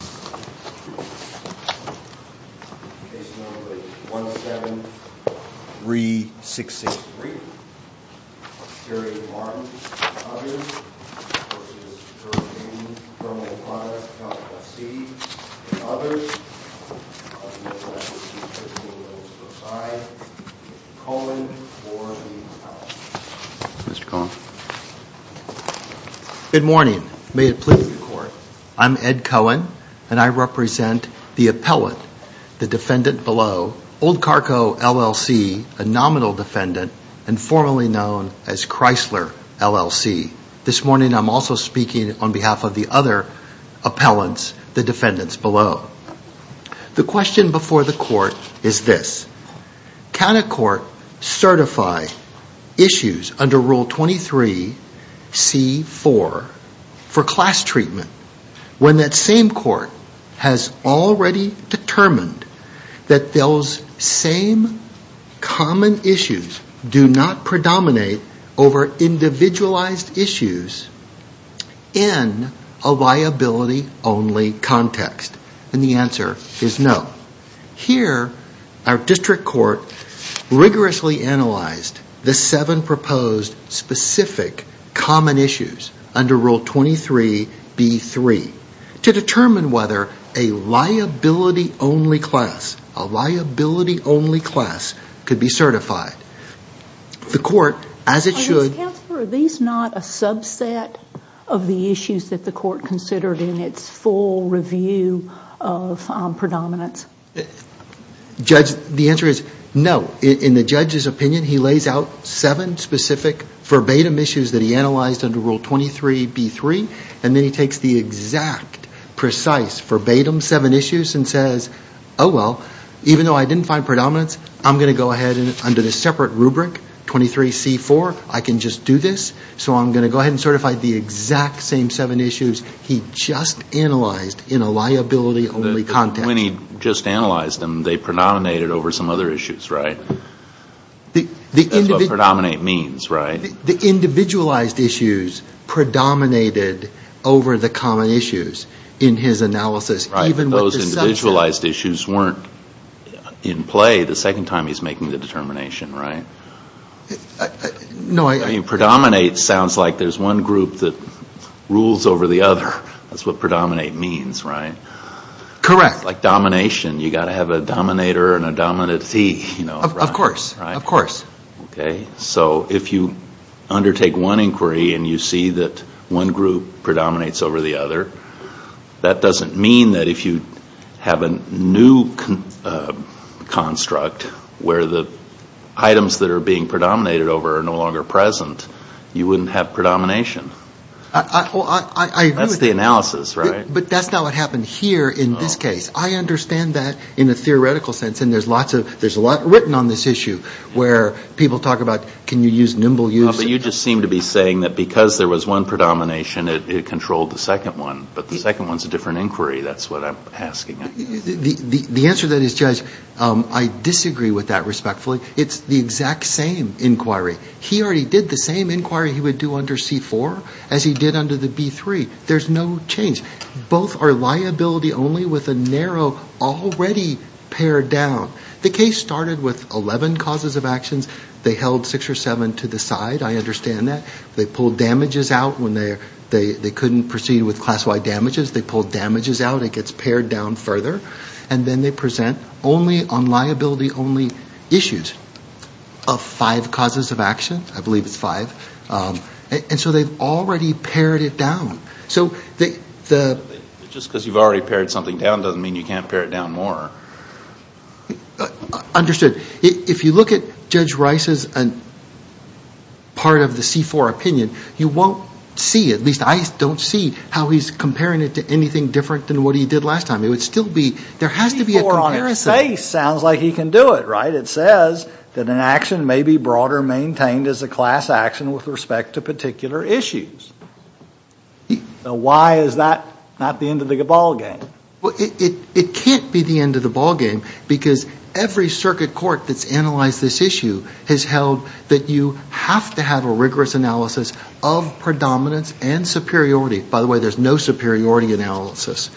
Case number 17363, Jerry Martin and others, versus Behr Dayton Thermal Products, LLC, and others, Mr. Cohen for the audience. Good morning. May it please the court. I'm Ed Cohen, and I represent the appellant, the defendant below, Old Cargo, LLC, a nominal defendant, and formerly known as Chrysler, LLC. This morning I'm also speaking on behalf of the other appellants, the defendants below. The question before the court is this. Can a court certify issues under Rule 23C4 for class treatment when that same court has already determined that those same common issues do not predominate over individualized issues in a liability-only context? And the answer is no. Here, our district court rigorously analyzed the seven proposed specific common issues under Rule 23B3 to determine whether a liability-only class could be certified. Are these not a subset of the issues that the court considered in its full review of predominance? The answer is no. In the judge's opinion, he lays out seven specific verbatim issues that he analyzed under Rule 23B3, and then he takes the exact, precise, verbatim seven issues and says, oh, well, even though I didn't find predominance, I'm going to go ahead under this separate rubric, 23C4, I can just do this, so I'm going to go ahead and certify the exact same seven issues he just analyzed in a liability-only context. But when he just analyzed them, they predominated over some other issues, right? That's what predominate means, right? The individualized issues predominated over the common issues in his analysis. Right, but those individualized issues weren't in play the second time he's making the determination, right? No, I... Predominate sounds like there's one group that rules over the other. That's what predominate means, right? Correct. Like domination, you've got to have a dominator and a dominancy. Of course, of course. Okay, so if you undertake one inquiry and you see that one group predominates over the other, that doesn't mean that if you have a new construct where the items that are being predominated over are no longer present, you wouldn't have predomination. I agree with you. That's the analysis, right? But that's not what happened here in this case. I understand that in a theoretical sense, and there's a lot written on this issue where people talk about, can you use nimble use? But you just seem to be saying that because there was one predomination, it controlled the second one, but the second one's a different inquiry. That's what I'm asking. The answer to that is, Judge, I disagree with that respectfully. It's the exact same inquiry. He already did the same inquiry he would do under C4 as he did under the B3. There's no change. Both are liability only with a narrow already pared down. The case started with 11 causes of actions. They held six or seven to the side. I understand that. They pulled damages out when they couldn't proceed with class-wide damages. They pulled damages out. It gets pared down further. And then they present only on liability-only issues of five causes of action. I believe it's five. And so they've already pared it down. Just because you've already pared something down doesn't mean you can't pare it down more. Understood. If you look at Judge Rice's part of the C4 opinion, you won't see, at least I don't see, how he's comparing it to anything different than what he did last time. It would still be, there has to be a comparison. C4 on its face sounds like he can do it, right? It says that an action may be brought or maintained as a class action with respect to particular issues. Why is that not the end of the ballgame? It can't be the end of the ballgame because every circuit court that's analyzed this issue has held that you have to have a rigorous analysis of predominance and superiority. By the way, there's no superiority analysis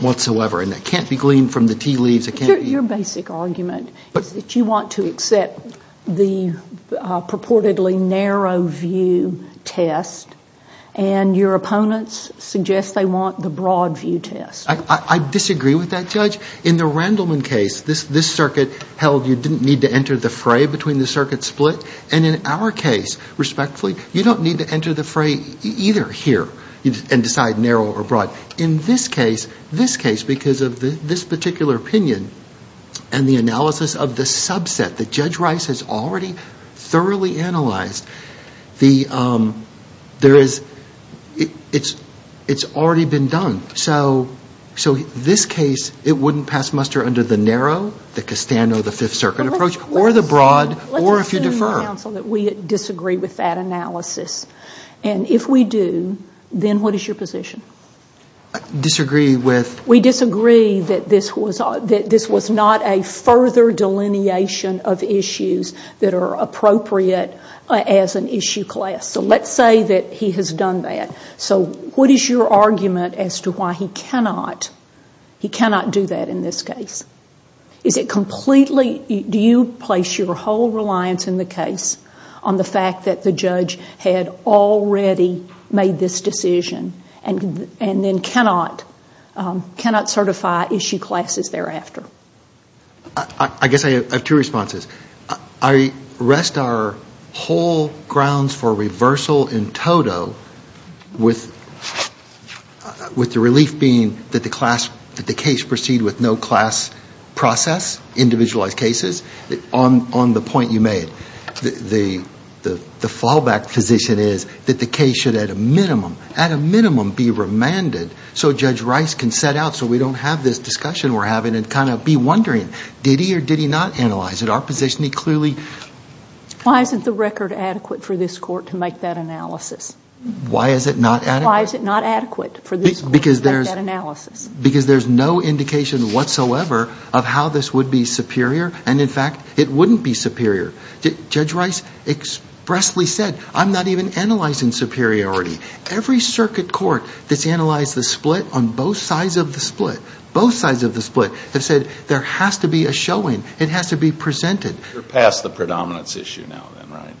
whatsoever. And that can't be gleaned from the tea leaves. Your basic argument is that you want to accept the purportedly narrow view test and your opponents suggest they want the broad view test. I disagree with that, Judge. In the Randleman case, this circuit held you didn't need to enter the fray between the circuits split. And in our case, respectfully, you don't need to enter the fray either here and decide narrow or broad. In this case, because of this particular opinion and the analysis of the subset that Judge Rice has already thoroughly analyzed, it's already been done. So this case, it wouldn't pass muster under the narrow, the Castano, the Fifth Circuit approach, or the broad, or if you defer. Let's assume, counsel, that we disagree with that analysis. And if we do, then what is your position? Disagree with? We disagree that this was not a further delineation of issues that are appropriate as an issue class. So let's say that he has done that. So what is your argument as to why he cannot do that in this case? Do you place your whole reliance in the case on the fact that the judge had already made this decision and then cannot certify issue classes thereafter? I guess I have two responses. I rest our whole grounds for reversal in toto with the relief being that the case proceed with no class process, individualized cases, on the point you made. The fallback position is that the case should at a minimum, at a minimum, be remanded so Judge Rice can set out so we don't have this discussion we're having and kind of be wondering, did he or did he not analyze it? Our position, he clearly. Why isn't the record adequate for this Court to make that analysis? Why is it not adequate? Why is it not adequate for this Court to make that analysis? Because there's no indication whatsoever of how this would be superior, and in fact, it wouldn't be superior. Judge Rice expressly said, I'm not even analyzing superiority. Every circuit court that's analyzed the split on both sides of the split, both sides of the split, have said there has to be a showing. It has to be presented. You're past the predominance issue now, then, right?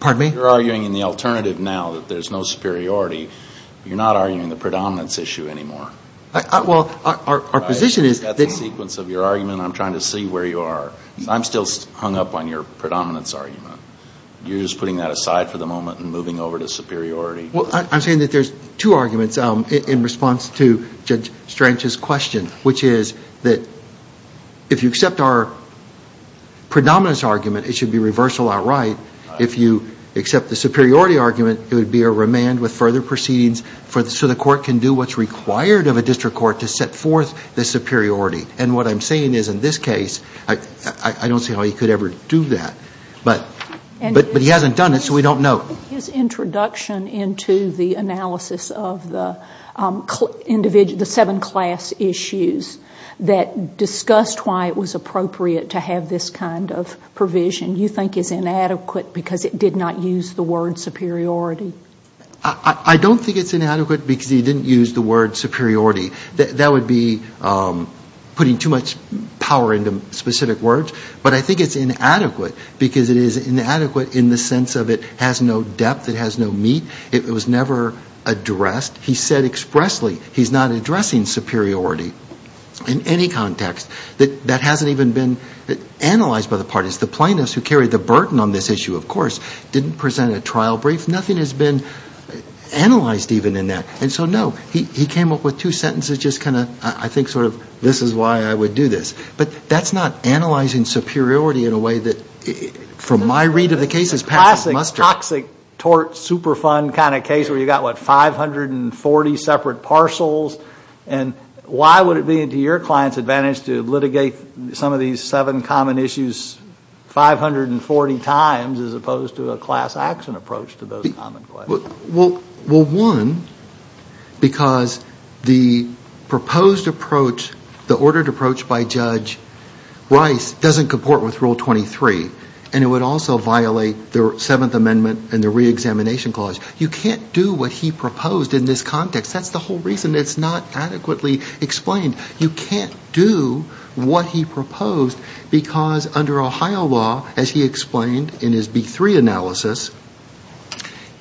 Pardon me? You're arguing in the alternative now that there's no superiority. You're not arguing the predominance issue anymore. Well, our position is that… That's a sequence of your argument. I'm trying to see where you are. I'm still hung up on your predominance argument. You're just putting that aside for the moment and moving over to superiority. Well, I'm saying that there's two arguments in response to Judge Strange's question, which is that if you accept our predominance argument, it should be reversal outright. If you accept the superiority argument, it would be a remand with further proceedings so the Court can do what's required of a district court to set forth the superiority. And what I'm saying is, in this case, I don't see how you could ever do that. But he hasn't done it, so we don't know. His introduction into the analysis of the seven class issues that discussed why it was appropriate to have this kind of provision, you think is inadequate because it did not use the word superiority? I don't think it's inadequate because he didn't use the word superiority. That would be putting too much power into specific words. But I think it's inadequate because it is inadequate in the sense of it has no depth. It has no meat. It was never addressed. He said expressly he's not addressing superiority in any context. That hasn't even been analyzed by the parties. The plaintiffs who carried the burden on this issue, of course, didn't present a trial brief. Nothing has been analyzed even in that. And so, no, he came up with two sentences just kind of, I think, sort of, this is why I would do this. But that's not analyzing superiority in a way that, from my read of the case, is passion mustard. It's a classic toxic tort superfund kind of case where you've got, what, 540 separate parcels. And why would it be to your client's advantage to litigate some of these seven common issues 540 times as opposed to a class action approach to those common questions? Well, one, because the proposed approach, the ordered approach by Judge Rice doesn't comport with Rule 23. And it would also violate the Seventh Amendment and the Reexamination Clause. You can't do what he proposed in this context. That's the whole reason it's not adequately explained. You can't do what he proposed because under Ohio law, as he explained in his B3 analysis,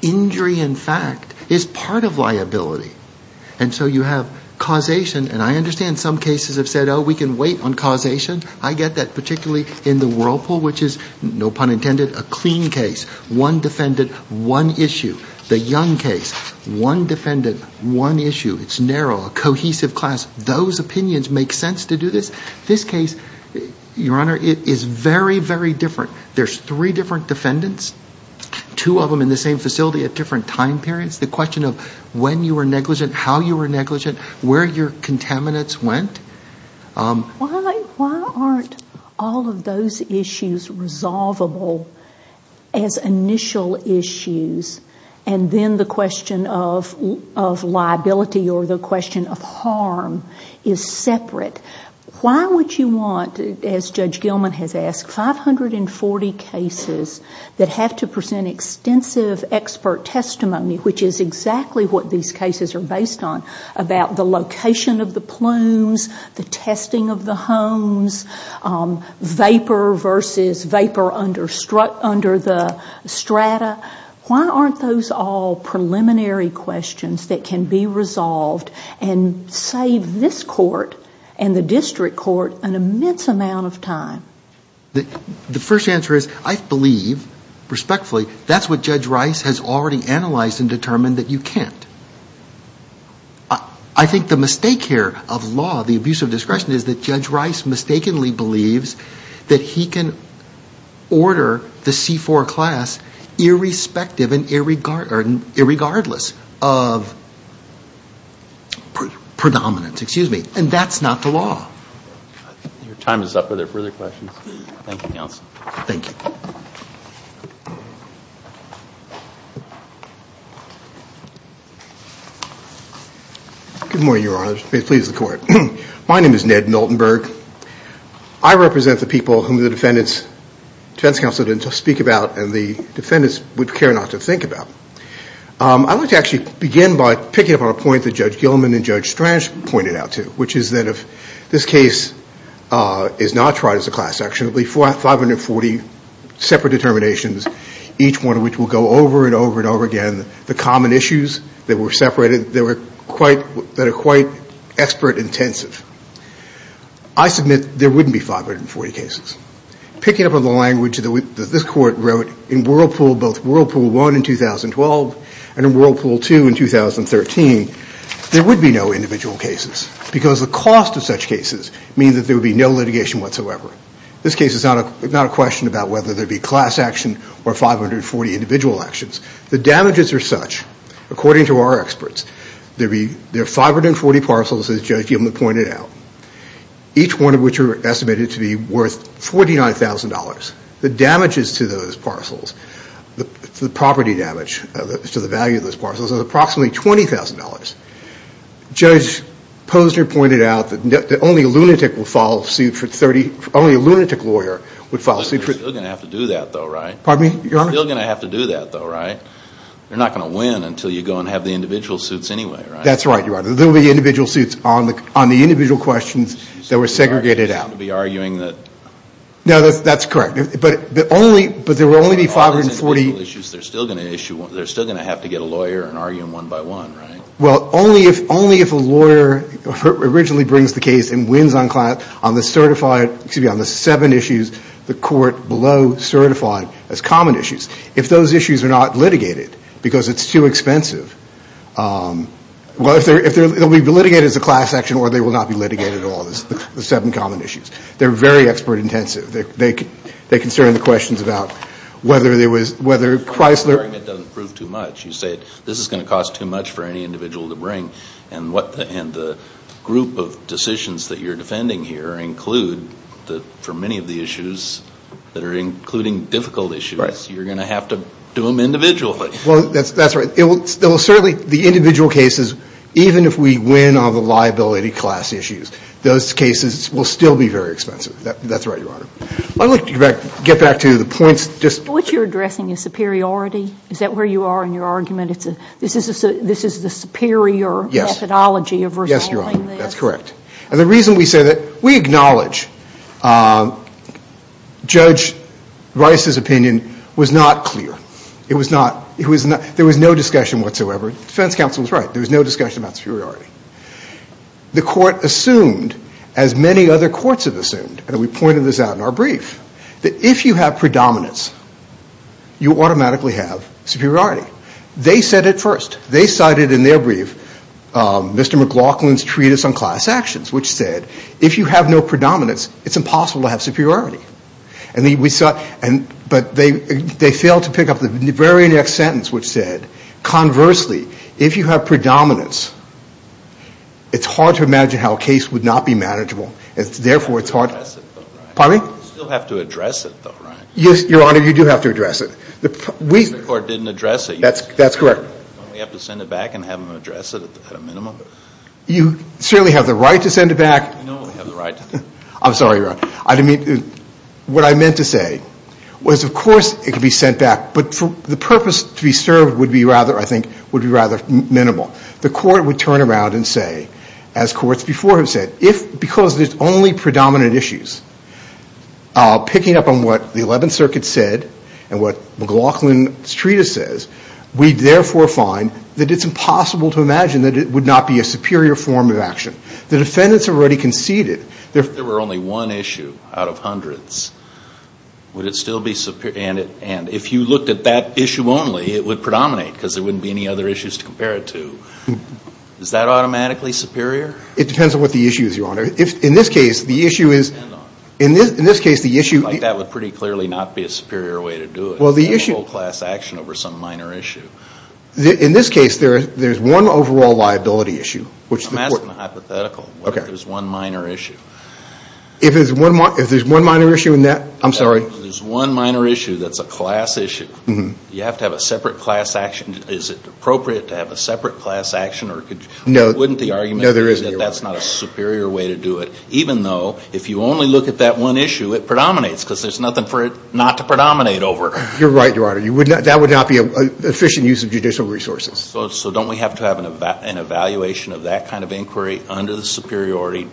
injury in fact is part of liability. And so you have causation. And I understand some cases have said, oh, we can wait on causation. I get that particularly in the Whirlpool, which is, no pun intended, a clean case. One defendant, one issue. The Young case, one defendant, one issue. It's narrow, a cohesive class. Those opinions make sense to do this. This case, Your Honor, is very, very different. There's three different defendants, two of them in the same facility at different time periods. The question of when you were negligent, how you were negligent, where your contaminants went. Why aren't all of those issues resolvable as initial issues, and then the question of liability or the question of harm is separate? Why would you want, as Judge Gilman has asked, 540 cases that have to present extensive expert testimony, which is exactly what these cases are based on, about the location of the plumes, the testing of the homes, vapor versus vapor under the strata? Why aren't those all preliminary questions that can be resolved and save this court and the district court an immense amount of time? The first answer is, I believe, respectfully, that's what Judge Rice has already analyzed and determined that you can't. I think the mistake here of law, the abuse of discretion, is that Judge Rice mistakenly believes that he can order the C-4 class irrespective and irregardless of predominance. And that's not the law. Your time is up. Are there further questions? Thank you, Counsel. Good morning, Your Honor. Please, the Court. My name is Ned Miltonberg. I represent the people whom the defense counsel didn't speak about and the defendants would care not to think about. I want to actually begin by picking up on a point that Judge Gilman and Judge Strange pointed out to, which is that if this case is not tried as a class action, it will be 540 separate determinations, each one of which will go over and over and over again, the common issues that were separated that are quite expert intensive. I submit there wouldn't be 540 cases. Picking up on the language that this Court wrote in Whirlpool, both Whirlpool 1 in 2012 and Whirlpool 2 in 2013, there would be no individual cases because the cost of such cases means that there would be no litigation whatsoever. This case is not a question about whether there would be class action or 540 individual actions. The damages are such, according to our experts, there are 540 parcels, as Judge Gilman pointed out, each one of which are estimated to be worth $49,000. The damages to those parcels, the property damage to the value of those parcels is approximately $20,000. Judge Posner pointed out that only a lunatic lawyer would file suit. You're still going to have to do that though, right? You're not going to win until you go and have the individual suits anyway, right? That's right, Your Honor. There will be individual suits on the individual questions that were segregated out. So you're not going to be arguing that... No, that's correct. But there will only be 540... They're still going to have to get a lawyer and argue them one by one, right? Well, only if a lawyer originally brings the case and wins on the seven issues the Court below certified as common issues. If those issues are not litigated, because it's too expensive... They'll be litigated as a class action or they will not be litigated at all, the seven common issues. They're very expert intensive. They can start on the questions about whether Chrysler... You say this is going to cost too much for any individual to bring. And the group of decisions that you're defending here include, for many of the issues that are including difficult issues, you're going to have to do them individually. Well, that's right. Certainly the individual cases, even if we win on the liability class issues, those cases will still be very expensive. That's right, Your Honor. I'd like to get back to the points... What you're addressing is superiority? Is that where you are in your argument? This is the superior methodology of resolving this? Yes, Your Honor. That's correct. And the reason we say that... We acknowledge Judge Rice's opinion was not clear. There was no discussion whatsoever. The defense counsel was right. There was no discussion about superiority. The court assumed, as many other courts have assumed, and we pointed this out in our brief, that if you have predominance, you automatically have superiority. They said it first. They cited in their brief Mr. McLaughlin's treatise on class actions, which said if you have no predominance, it's impossible to have superiority. But they failed to pick up the very next sentence, which said, conversely, if you have predominance, it's hard to imagine how a case would not be manageable. You still have to address it, though, right? Yes, Your Honor, you do have to address it. The Supreme Court didn't address it. That's correct. Don't we have to send it back and have them address it at a minimum? You certainly have the right to send it back. I'm sorry, Your Honor. What I meant to say was, of course, it could be sent back, but the purpose to be served would be rather, I think, would be rather minimal. The court would turn around and say, as courts before have said, if because there's only predominant issues, picking up on what the Eleventh Circuit said and what McLaughlin's treatise says, we therefore find that it's impossible to imagine that it would not be a superior form of action. The defendants have already conceded. If there were only one issue out of hundreds, would it still be superior? And if you looked at that issue only, it would predominate because there wouldn't be any other issues to compare it to. Is that automatically superior? It depends on what the issue is, Your Honor. If, in this case, the issue is – In this case, the issue – That would pretty clearly not be a superior way to do it. Well, the issue – A whole class action over some minor issue. In this case, there's one overall liability issue, which the court – I'm asking a hypothetical. Okay. If there's one minor issue. If there's one minor issue in that – I'm sorry. If there's one minor issue that's a class issue, you have to have a separate class action. Is it appropriate to have a separate class action or – No. Wouldn't the argument be that that's not a superior way to do it, even though if you only look at that one issue, it predominates because there's nothing for it not to predominate over. You're right, Your Honor. That would not be an efficient use of judicial resources. So don't we have to have an evaluation of that kind of inquiry under the superiority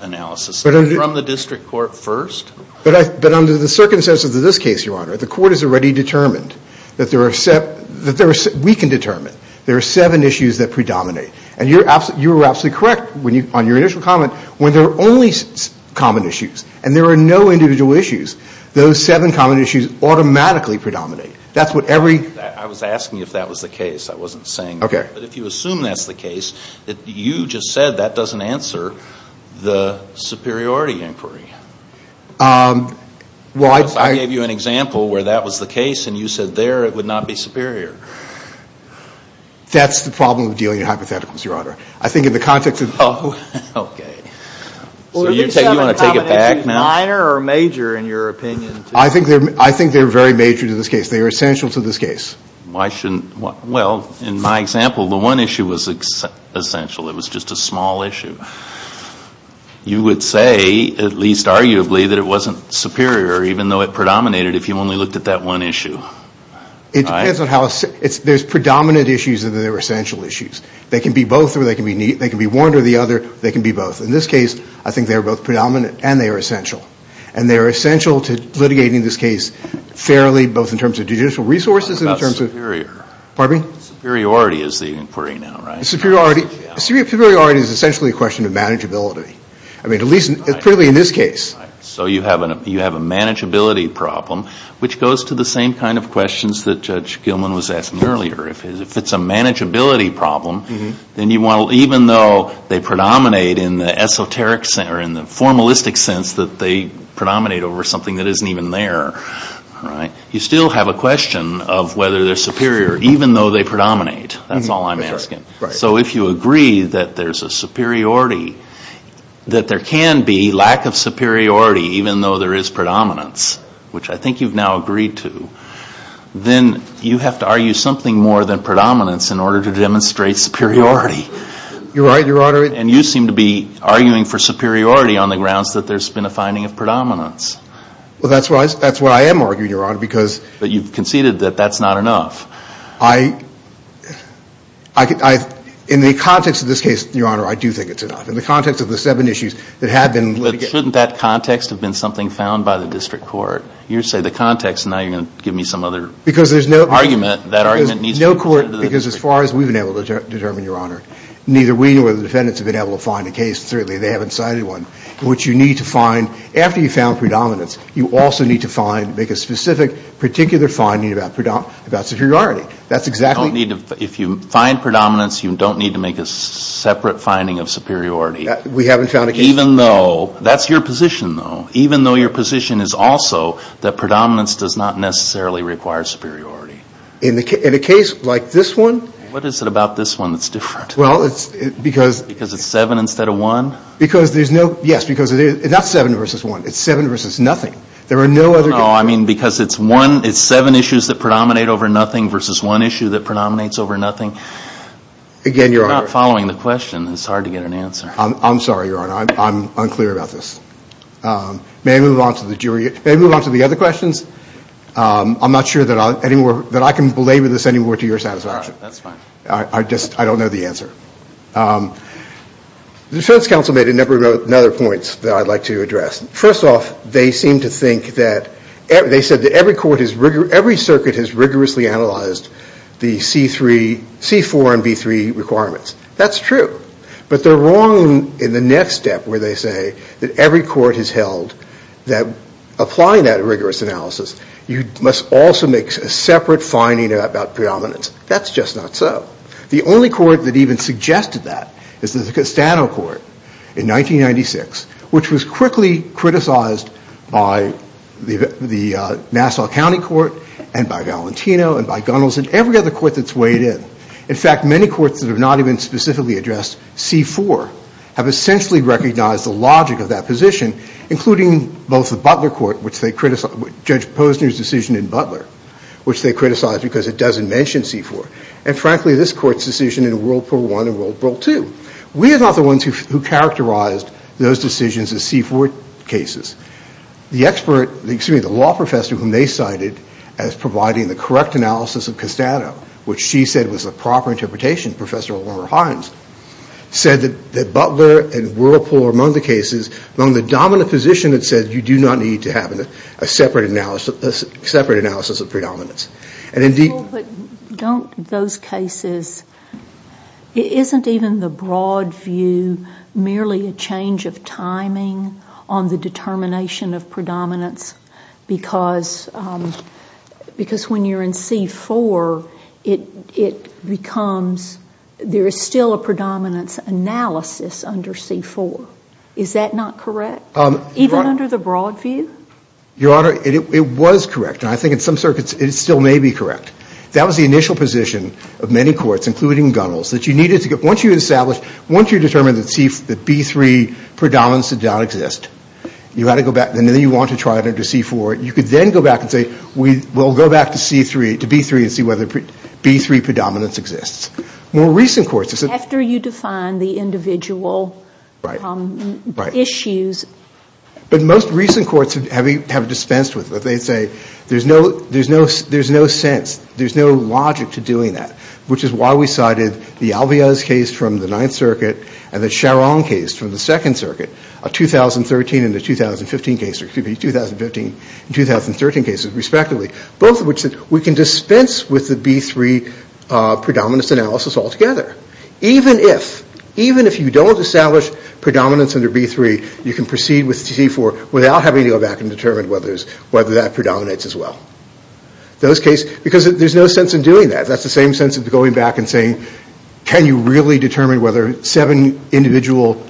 analysis from the district court first? But under the circumstances of this case, Your Honor, the court has already determined that there are – we can determine there are seven issues that predominate. And you were absolutely correct on your initial comment. When there are only common issues and there are no individual issues, those seven common issues automatically predominate. That's what every – I was asking you if that was the case. I wasn't saying that. Okay. But if you assume that's the case, you just said that doesn't answer the superiority inquiry. Well, I – I gave you an example where that was the case and you said there it would not be superior. That's the problem with dealing with hypotheticals, Your Honor. I think in the context of – Oh, okay. So you want to take it back now? Are these seven common issues minor or major in your opinion? I think they're very major to this case. They are essential to this case. Why shouldn't – well, in my example, the one issue was essential. It was just a small issue. You would say, at least arguably, that it wasn't superior even though it predominated if you only looked at that one issue. It depends on how – there's predominant issues and there are essential issues. They can be both or they can be one or the other. They can be both. In this case, I think they're both predominant and they are essential. And they are essential to litigating this case fairly, both in terms of judicial resources and in terms of – What about superior? Pardon me? Superiority is the inquiry now, right? Superiority is essentially a question of manageability. I mean, at least clearly in this case. So you have a manageability problem, which goes to the same kind of questions that Judge Gilman was asking earlier. If it's a manageability problem, then you want to – even though they predominate in the esoteric – or in the formalistic sense that they predominate over something that isn't even there, you still have a question of whether they're superior even though they predominate. That's all I'm asking. So if you agree that there's a superiority, that there can be lack of superiority even though there is predominance, which I think you've now agreed to, then you have to argue something more than predominance in order to demonstrate superiority. You're right. And you seem to be arguing for superiority on the grounds that there's been a finding of predominance. Well, that's what I am arguing, Your Honor, because – But you've conceded that that's not enough. I – in the context of this case, Your Honor, I do think it's enough. In the context of the seven issues that have been – But shouldn't that context have been something found by the district court? You say the context, and now you're going to give me some other argument. Because there's no – That argument needs to be presented to the district court. Because as far as we've been able to determine, Your Honor, neither we nor the defendants have been able to find a case, certainly they haven't cited one, in which you need to find – after you've found predominance, you also need to find – make a specific, particular finding about superiority. That's exactly – You don't need to – if you find predominance, you don't need to make a separate finding of superiority. We haven't found a case – Even though – that's your position, though. Even though your position is also that predominance does not necessarily require superiority. In a case like this one – What is it about this one that's different? Well, it's – because – Because it's seven instead of one? Because there's no – yes. Because it is – it's not seven versus one. It's seven versus nothing. There are no other – No, I mean, because it's one – it's seven issues that predominate over nothing versus one issue that predominates over nothing. Again, Your Honor – You're not following the question. It's hard to get an answer. I'm sorry, Your Honor. I'm unclear about this. May I move on to the jury – May I move on to the other questions? I'm not sure that I can belabor this anymore to your satisfaction. All right. That's fine. I just – I don't know the answer. The defense counsel made a number of other points that I'd like to address. First off, they seem to think that – they said that every court is – every circuit has rigorously analyzed the C3 – C4 and B3 requirements. That's true. But they're wrong in the next step where they say that every court has held that applying that rigorous analysis, you must also make a separate finding about predominance. That's just not so. The only court that even suggested that is the Castano Court in 1996, which was quickly criticized by the Nassau County Court and by Valentino and by Gunnels and every other court that's weighed in. In fact, many courts that have not even specifically addressed C4 have essentially recognized the logic of that position, including both the Butler Court, which they – Judge Posner's decision in Butler, which they criticized because it doesn't mention C4. And frankly, this Court's decision in Whirlpool 1 and Whirlpool 2. We are not the ones who characterized those decisions as C4 cases. The expert – excuse me, the law professor whom they cited as providing the correct analysis of Castano, which she said was the proper interpretation, Professor Laura Hines, said that Butler and Whirlpool are among the cases – among the dominant positions that said you do not need to have a separate analysis of predominance. But don't those cases – isn't even the broad view merely a change of timing on the determination of predominance? Because when you're in C4, it becomes – there is still a predominance analysis under C4. Is that not correct? Even under the broad view? Your Honor, it was correct. And I think in some circuits it still may be correct. That was the initial position of many courts, including Gunnell's, that you needed to get – once you establish – once you determine that B3 predominance did not exist, you had to go back and then you want to try it under C4. You could then go back and say we'll go back to C3 – to B3 and see whether B3 predominance exists. More recent courts – After you define the individual issues. But most recent courts have dispensed with it. They say there's no sense. There's no logic to doing that. Which is why we cited the Alvarez case from the Ninth Circuit and the Sharon case from the Second Circuit, a 2013 and a 2015 case – excuse me, 2015 and 2013 cases respectively. Both of which we can dispense with the B3 predominance analysis altogether. Even if – even if you don't establish predominance under B3, you can proceed with C4 without having to go back and determine whether that predominates as well. Those cases – because there's no sense in doing that. That's the same sense of going back and saying can you really determine whether seven individual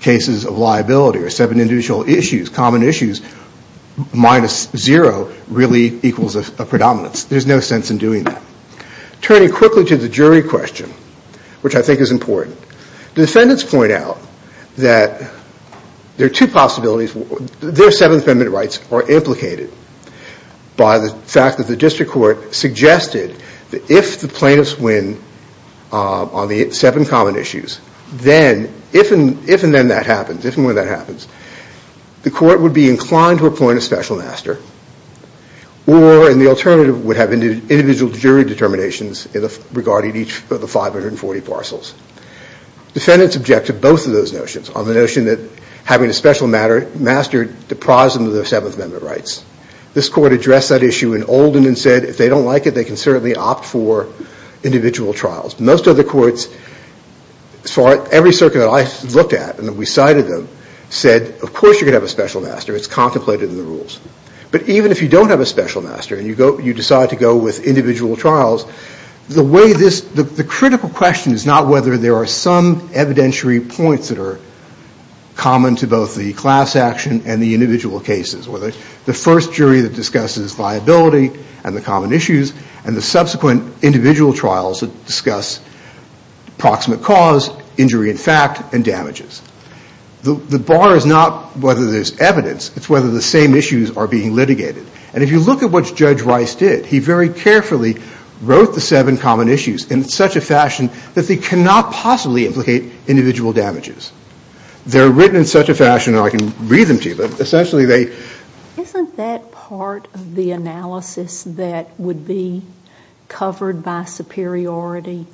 cases of liability or seven individual issues, common issues, minus zero really equals a predominance. There's no sense in doing that. Turning quickly to the jury question, which I think is important. Defendants point out that there are two possibilities. Their Seventh Amendment rights are implicated by the fact that the district court suggested that if the plaintiffs win on the seven common issues, then if and when that happens, the court would be inclined to appoint a special master or in the alternative would have individual jury determinations regarding each of the 540 parcels. Defendants object to both of those notions. On the notion that having a special master deprives them of their Seventh Amendment rights. This court addressed that issue in Olden and said if they don't like it, they can certainly opt for individual trials. Most other courts saw it – every circuit that I looked at and that we cited them said of course you're going to have a special master. It's contemplated in the rules. But even if you don't have a special master and you decide to go with individual trials, the way this – the critical question is not whether there are some evidentiary points that are common to both the class action and the individual cases. Whether it's the first jury that discusses viability and the common issues and the subsequent individual trials that discuss proximate cause, injury in fact, and damages. The bar is not whether there's evidence. It's whether the same issues are being litigated. And if you look at what Judge Rice did, he very carefully wrote the seven common issues in such a fashion that they cannot possibly implicate individual damages. They're written in such a fashion, and I can read them to you, but essentially they – Isn't that part of the analysis that would be covered by superiority?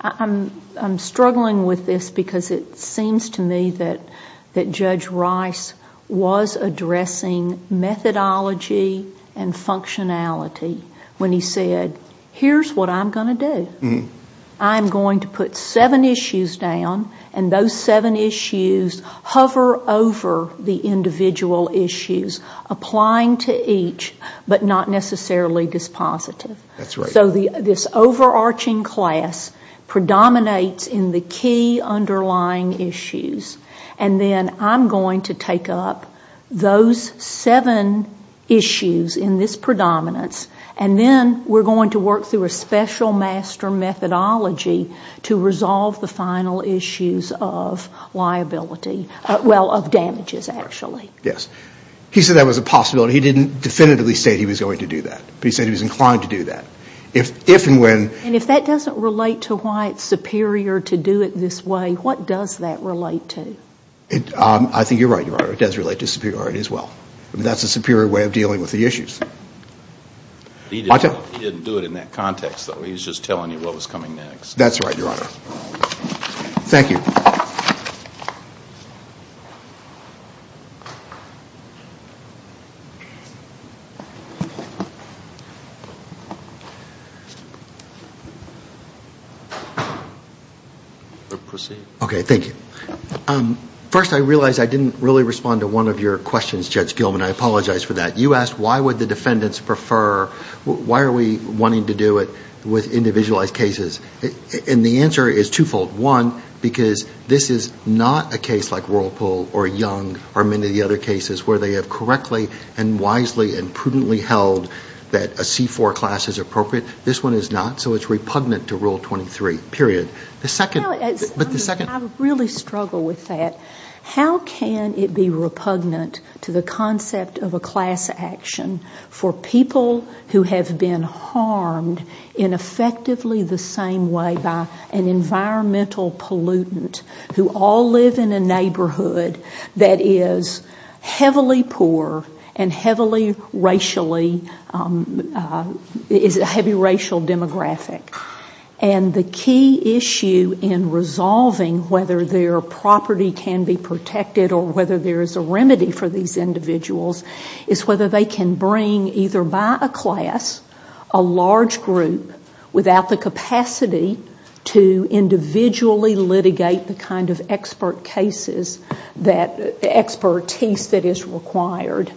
I'm struggling with this because it seems to me that Judge Rice was addressing methodology and functionality when he said here's what I'm going to do. I'm going to put seven issues down and those seven issues hover over the individual issues, applying to each but not necessarily dispositive. That's right. So this overarching class predominates in the key underlying issues. And then I'm going to take up those seven issues in this predominance and then we're going to work through a special master methodology to resolve the final issues of liability, well, of damages actually. Yes. He said that was a possibility. He didn't definitively say he was going to do that, but he said he was inclined to do that. If and when. And if that doesn't relate to why it's superior to do it this way, what does that relate to? I think you're right, Your Honor. It does relate to superiority as well. That's a superior way of dealing with the issues. He didn't do it in that context, though. He was just telling you what was coming next. That's right, Your Honor. Thank you. Proceed. Okay, thank you. First, I realize I didn't really respond to one of your questions, Judge Gilman. I apologize for that. You asked why would the defendants prefer, why are we wanting to do it with individualized cases. And the answer is twofold. One, because this is not a case like Whirlpool or Young or many of the other cases where they have correctly and wisely and prudently held that a C-4 class is appropriate. This one is not, so it's repugnant to Rule 23, period. I really struggle with that. How can it be repugnant to the concept of a class action for people who have been harmed in effectively the same way by an environmental pollutant who all live in a neighborhood that is heavily poor and heavily racially, is a heavy racial demographic. And the key issue in resolving whether their property can be protected or whether there is a remedy for these individuals is whether they can bring either by a class, a large group, without the capacity to individually litigate the kind of expertise that is required.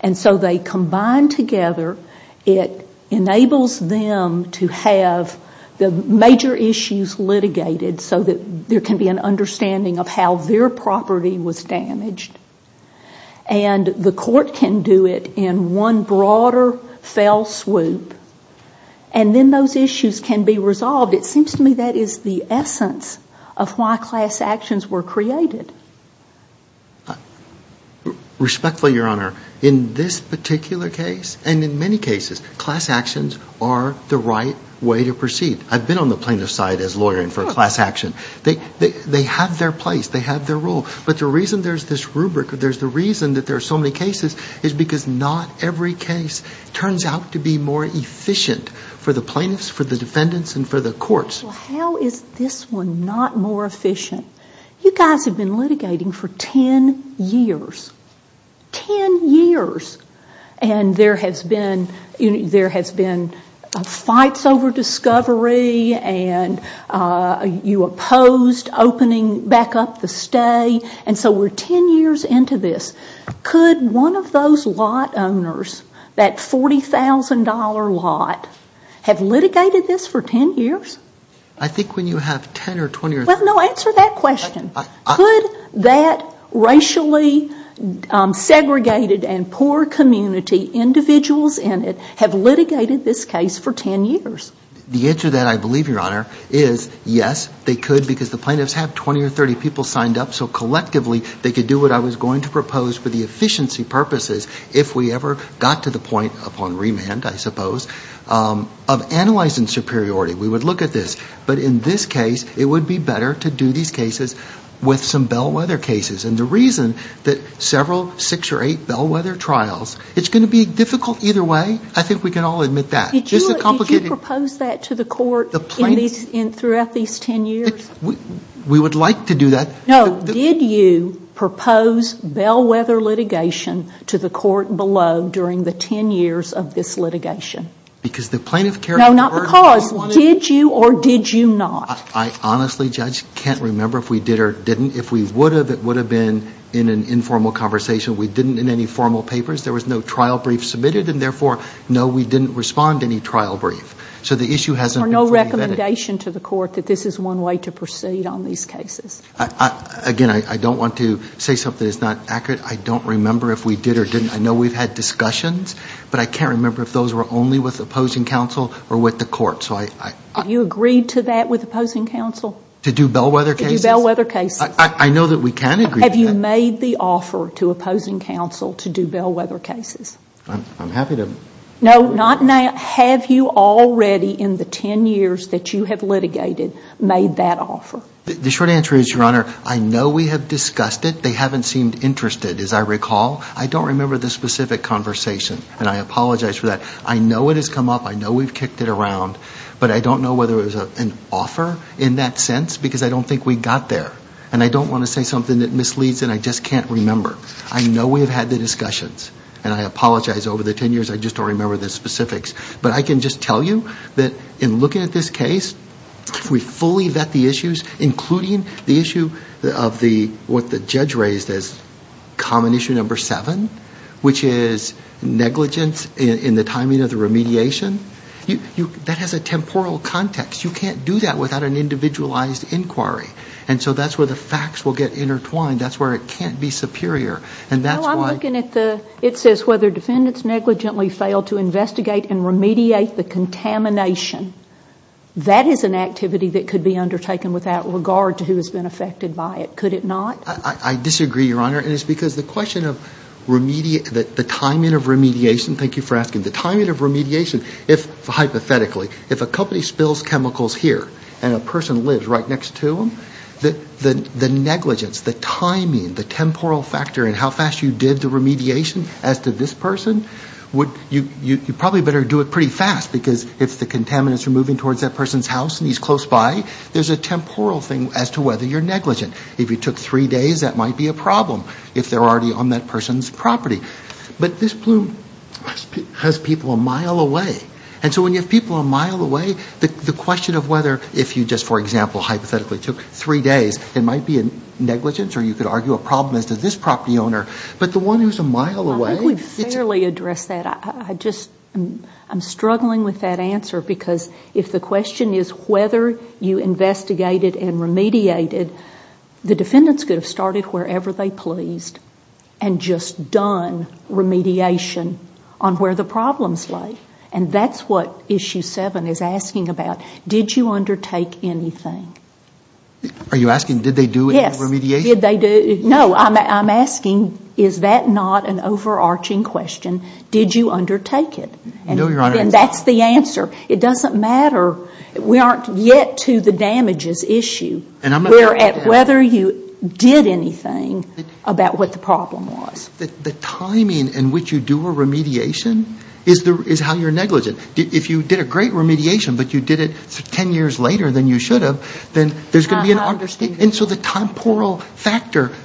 And so they combine together, it enables them to have the major issues litigated so that there can be an understanding of how their property was damaged. And the court can do it in one broader fell swoop. And then those issues can be resolved. It seems to me that is the essence of why class actions were created. Respectfully, Your Honor, in this particular case and in many cases, class actions are the right way to proceed. I've been on the plaintiff's side as a lawyer and for a class action. They have their place. They have their role. But the reason there's this rubric, there's the reason that there are so many cases, is because not every case turns out to be more efficient for the plaintiffs, for the defendants, and for the courts. Well, how is this one not more efficient? You guys have been litigating for 10 years. 10 years. And there has been fights over discovery and you opposed opening back up the stay. And so we're 10 years into this. Could one of those lot owners, that $40,000 lot, have litigated this for 10 years? Well, no, answer that question. Could that racially segregated and poor community, individuals in it, have litigated this case for 10 years? The answer to that, I believe, Your Honor, is yes, they could, because the plaintiffs have 20 or 30 people signed up, so collectively they could do what I was going to propose for the efficiency purposes, if we ever got to the point upon remand, I suppose, of analyzing superiority. We would look at this. But in this case, it would be better to do these cases with some bellwether cases. And the reason that several six or eight bellwether trials, it's going to be difficult either way, I think we can all admit that. Did you propose that to the court throughout these 10 years? We would like to do that. No, did you propose bellwether litigation to the court below during the 10 years of this litigation? Because the plaintiff carried the burden. No, not because. Did you or did you not? I honestly, Judge, can't remember if we did or didn't. If we would have, it would have been in an informal conversation. We didn't in any formal papers. There was no trial brief submitted, and therefore, no, we didn't respond to any trial brief. So the issue hasn't been fully vetted. Or no recommendation to the court that this is one way to proceed on these cases? Again, I don't want to say something that's not accurate. I don't remember if we did or didn't. I know we've had discussions, but I can't remember if those were only with opposing counsel or with the court. Have you agreed to that with opposing counsel? To do bellwether cases? To do bellwether cases. I know that we can agree to that. Have you made the offer to opposing counsel to do bellwether cases? I'm happy to. No, not now. Have you already in the 10 years that you have litigated made that offer? The short answer is, Your Honor, I know we have discussed it. They haven't seemed interested. As I recall, I don't remember the specific conversation, and I apologize for that. I know it has come up. I know we've kicked it around. But I don't know whether it was an offer in that sense because I don't think we got there. And I don't want to say something that misleads and I just can't remember. I know we have had the discussions, and I apologize. Over the 10 years, I just don't remember the specifics. But I can just tell you that in looking at this case, if we fully vet the issues, including the issue of what the judge raised as common issue number seven, which is negligence in the timing of the remediation, that has a temporal context. You can't do that without an individualized inquiry. And so that's where the facts will get intertwined. That's where it can't be superior. And that's why... No, I'm looking at the... That is an activity that could be undertaken without regard to who has been affected by it. Could it not? I disagree, Your Honor. And it's because the question of the timing of remediation... Thank you for asking. The timing of remediation, hypothetically, if a company spills chemicals here and a person lives right next to them, the negligence, the timing, the temporal factor in how fast you did the remediation as to this person, you probably better do it pretty fast because if the contaminants are moving towards that person's house and he's close by, there's a temporal thing as to whether you're negligent. If you took three days, that might be a problem if they're already on that person's property. But this bloom has people a mile away. And so when you have people a mile away, the question of whether if you just, for example, hypothetically took three days, it might be a negligence or you could argue a problem as to this property owner. But the one who's a mile away... I think we've fairly addressed that. I just am struggling with that answer because if the question is whether you investigated and remediated, the defendants could have started wherever they pleased and just done remediation on where the problems lay. And that's what Issue 7 is asking about. Did you undertake anything? Are you asking did they do any remediation? Yes. Did they do... No, I'm asking is that not an overarching question? Did you undertake it? No, Your Honor. And that's the answer. It doesn't matter. We aren't yet to the damages issue. We're at whether you did anything about what the problem was. The timing in which you do a remediation is how you're negligent. If you did a great remediation but you did it 10 years later than you should have, then there's going to be an... It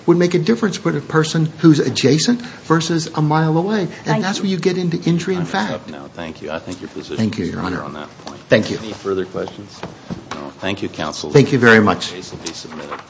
would make a difference for the person who's adjacent versus a mile away. And that's where you get into injury in fact. I'm going to stop now. Thank you. I think your position is clear on that point. Thank you, Your Honor. Any further questions? No. Thank you, counsel. Thank you very much. The case will be submitted.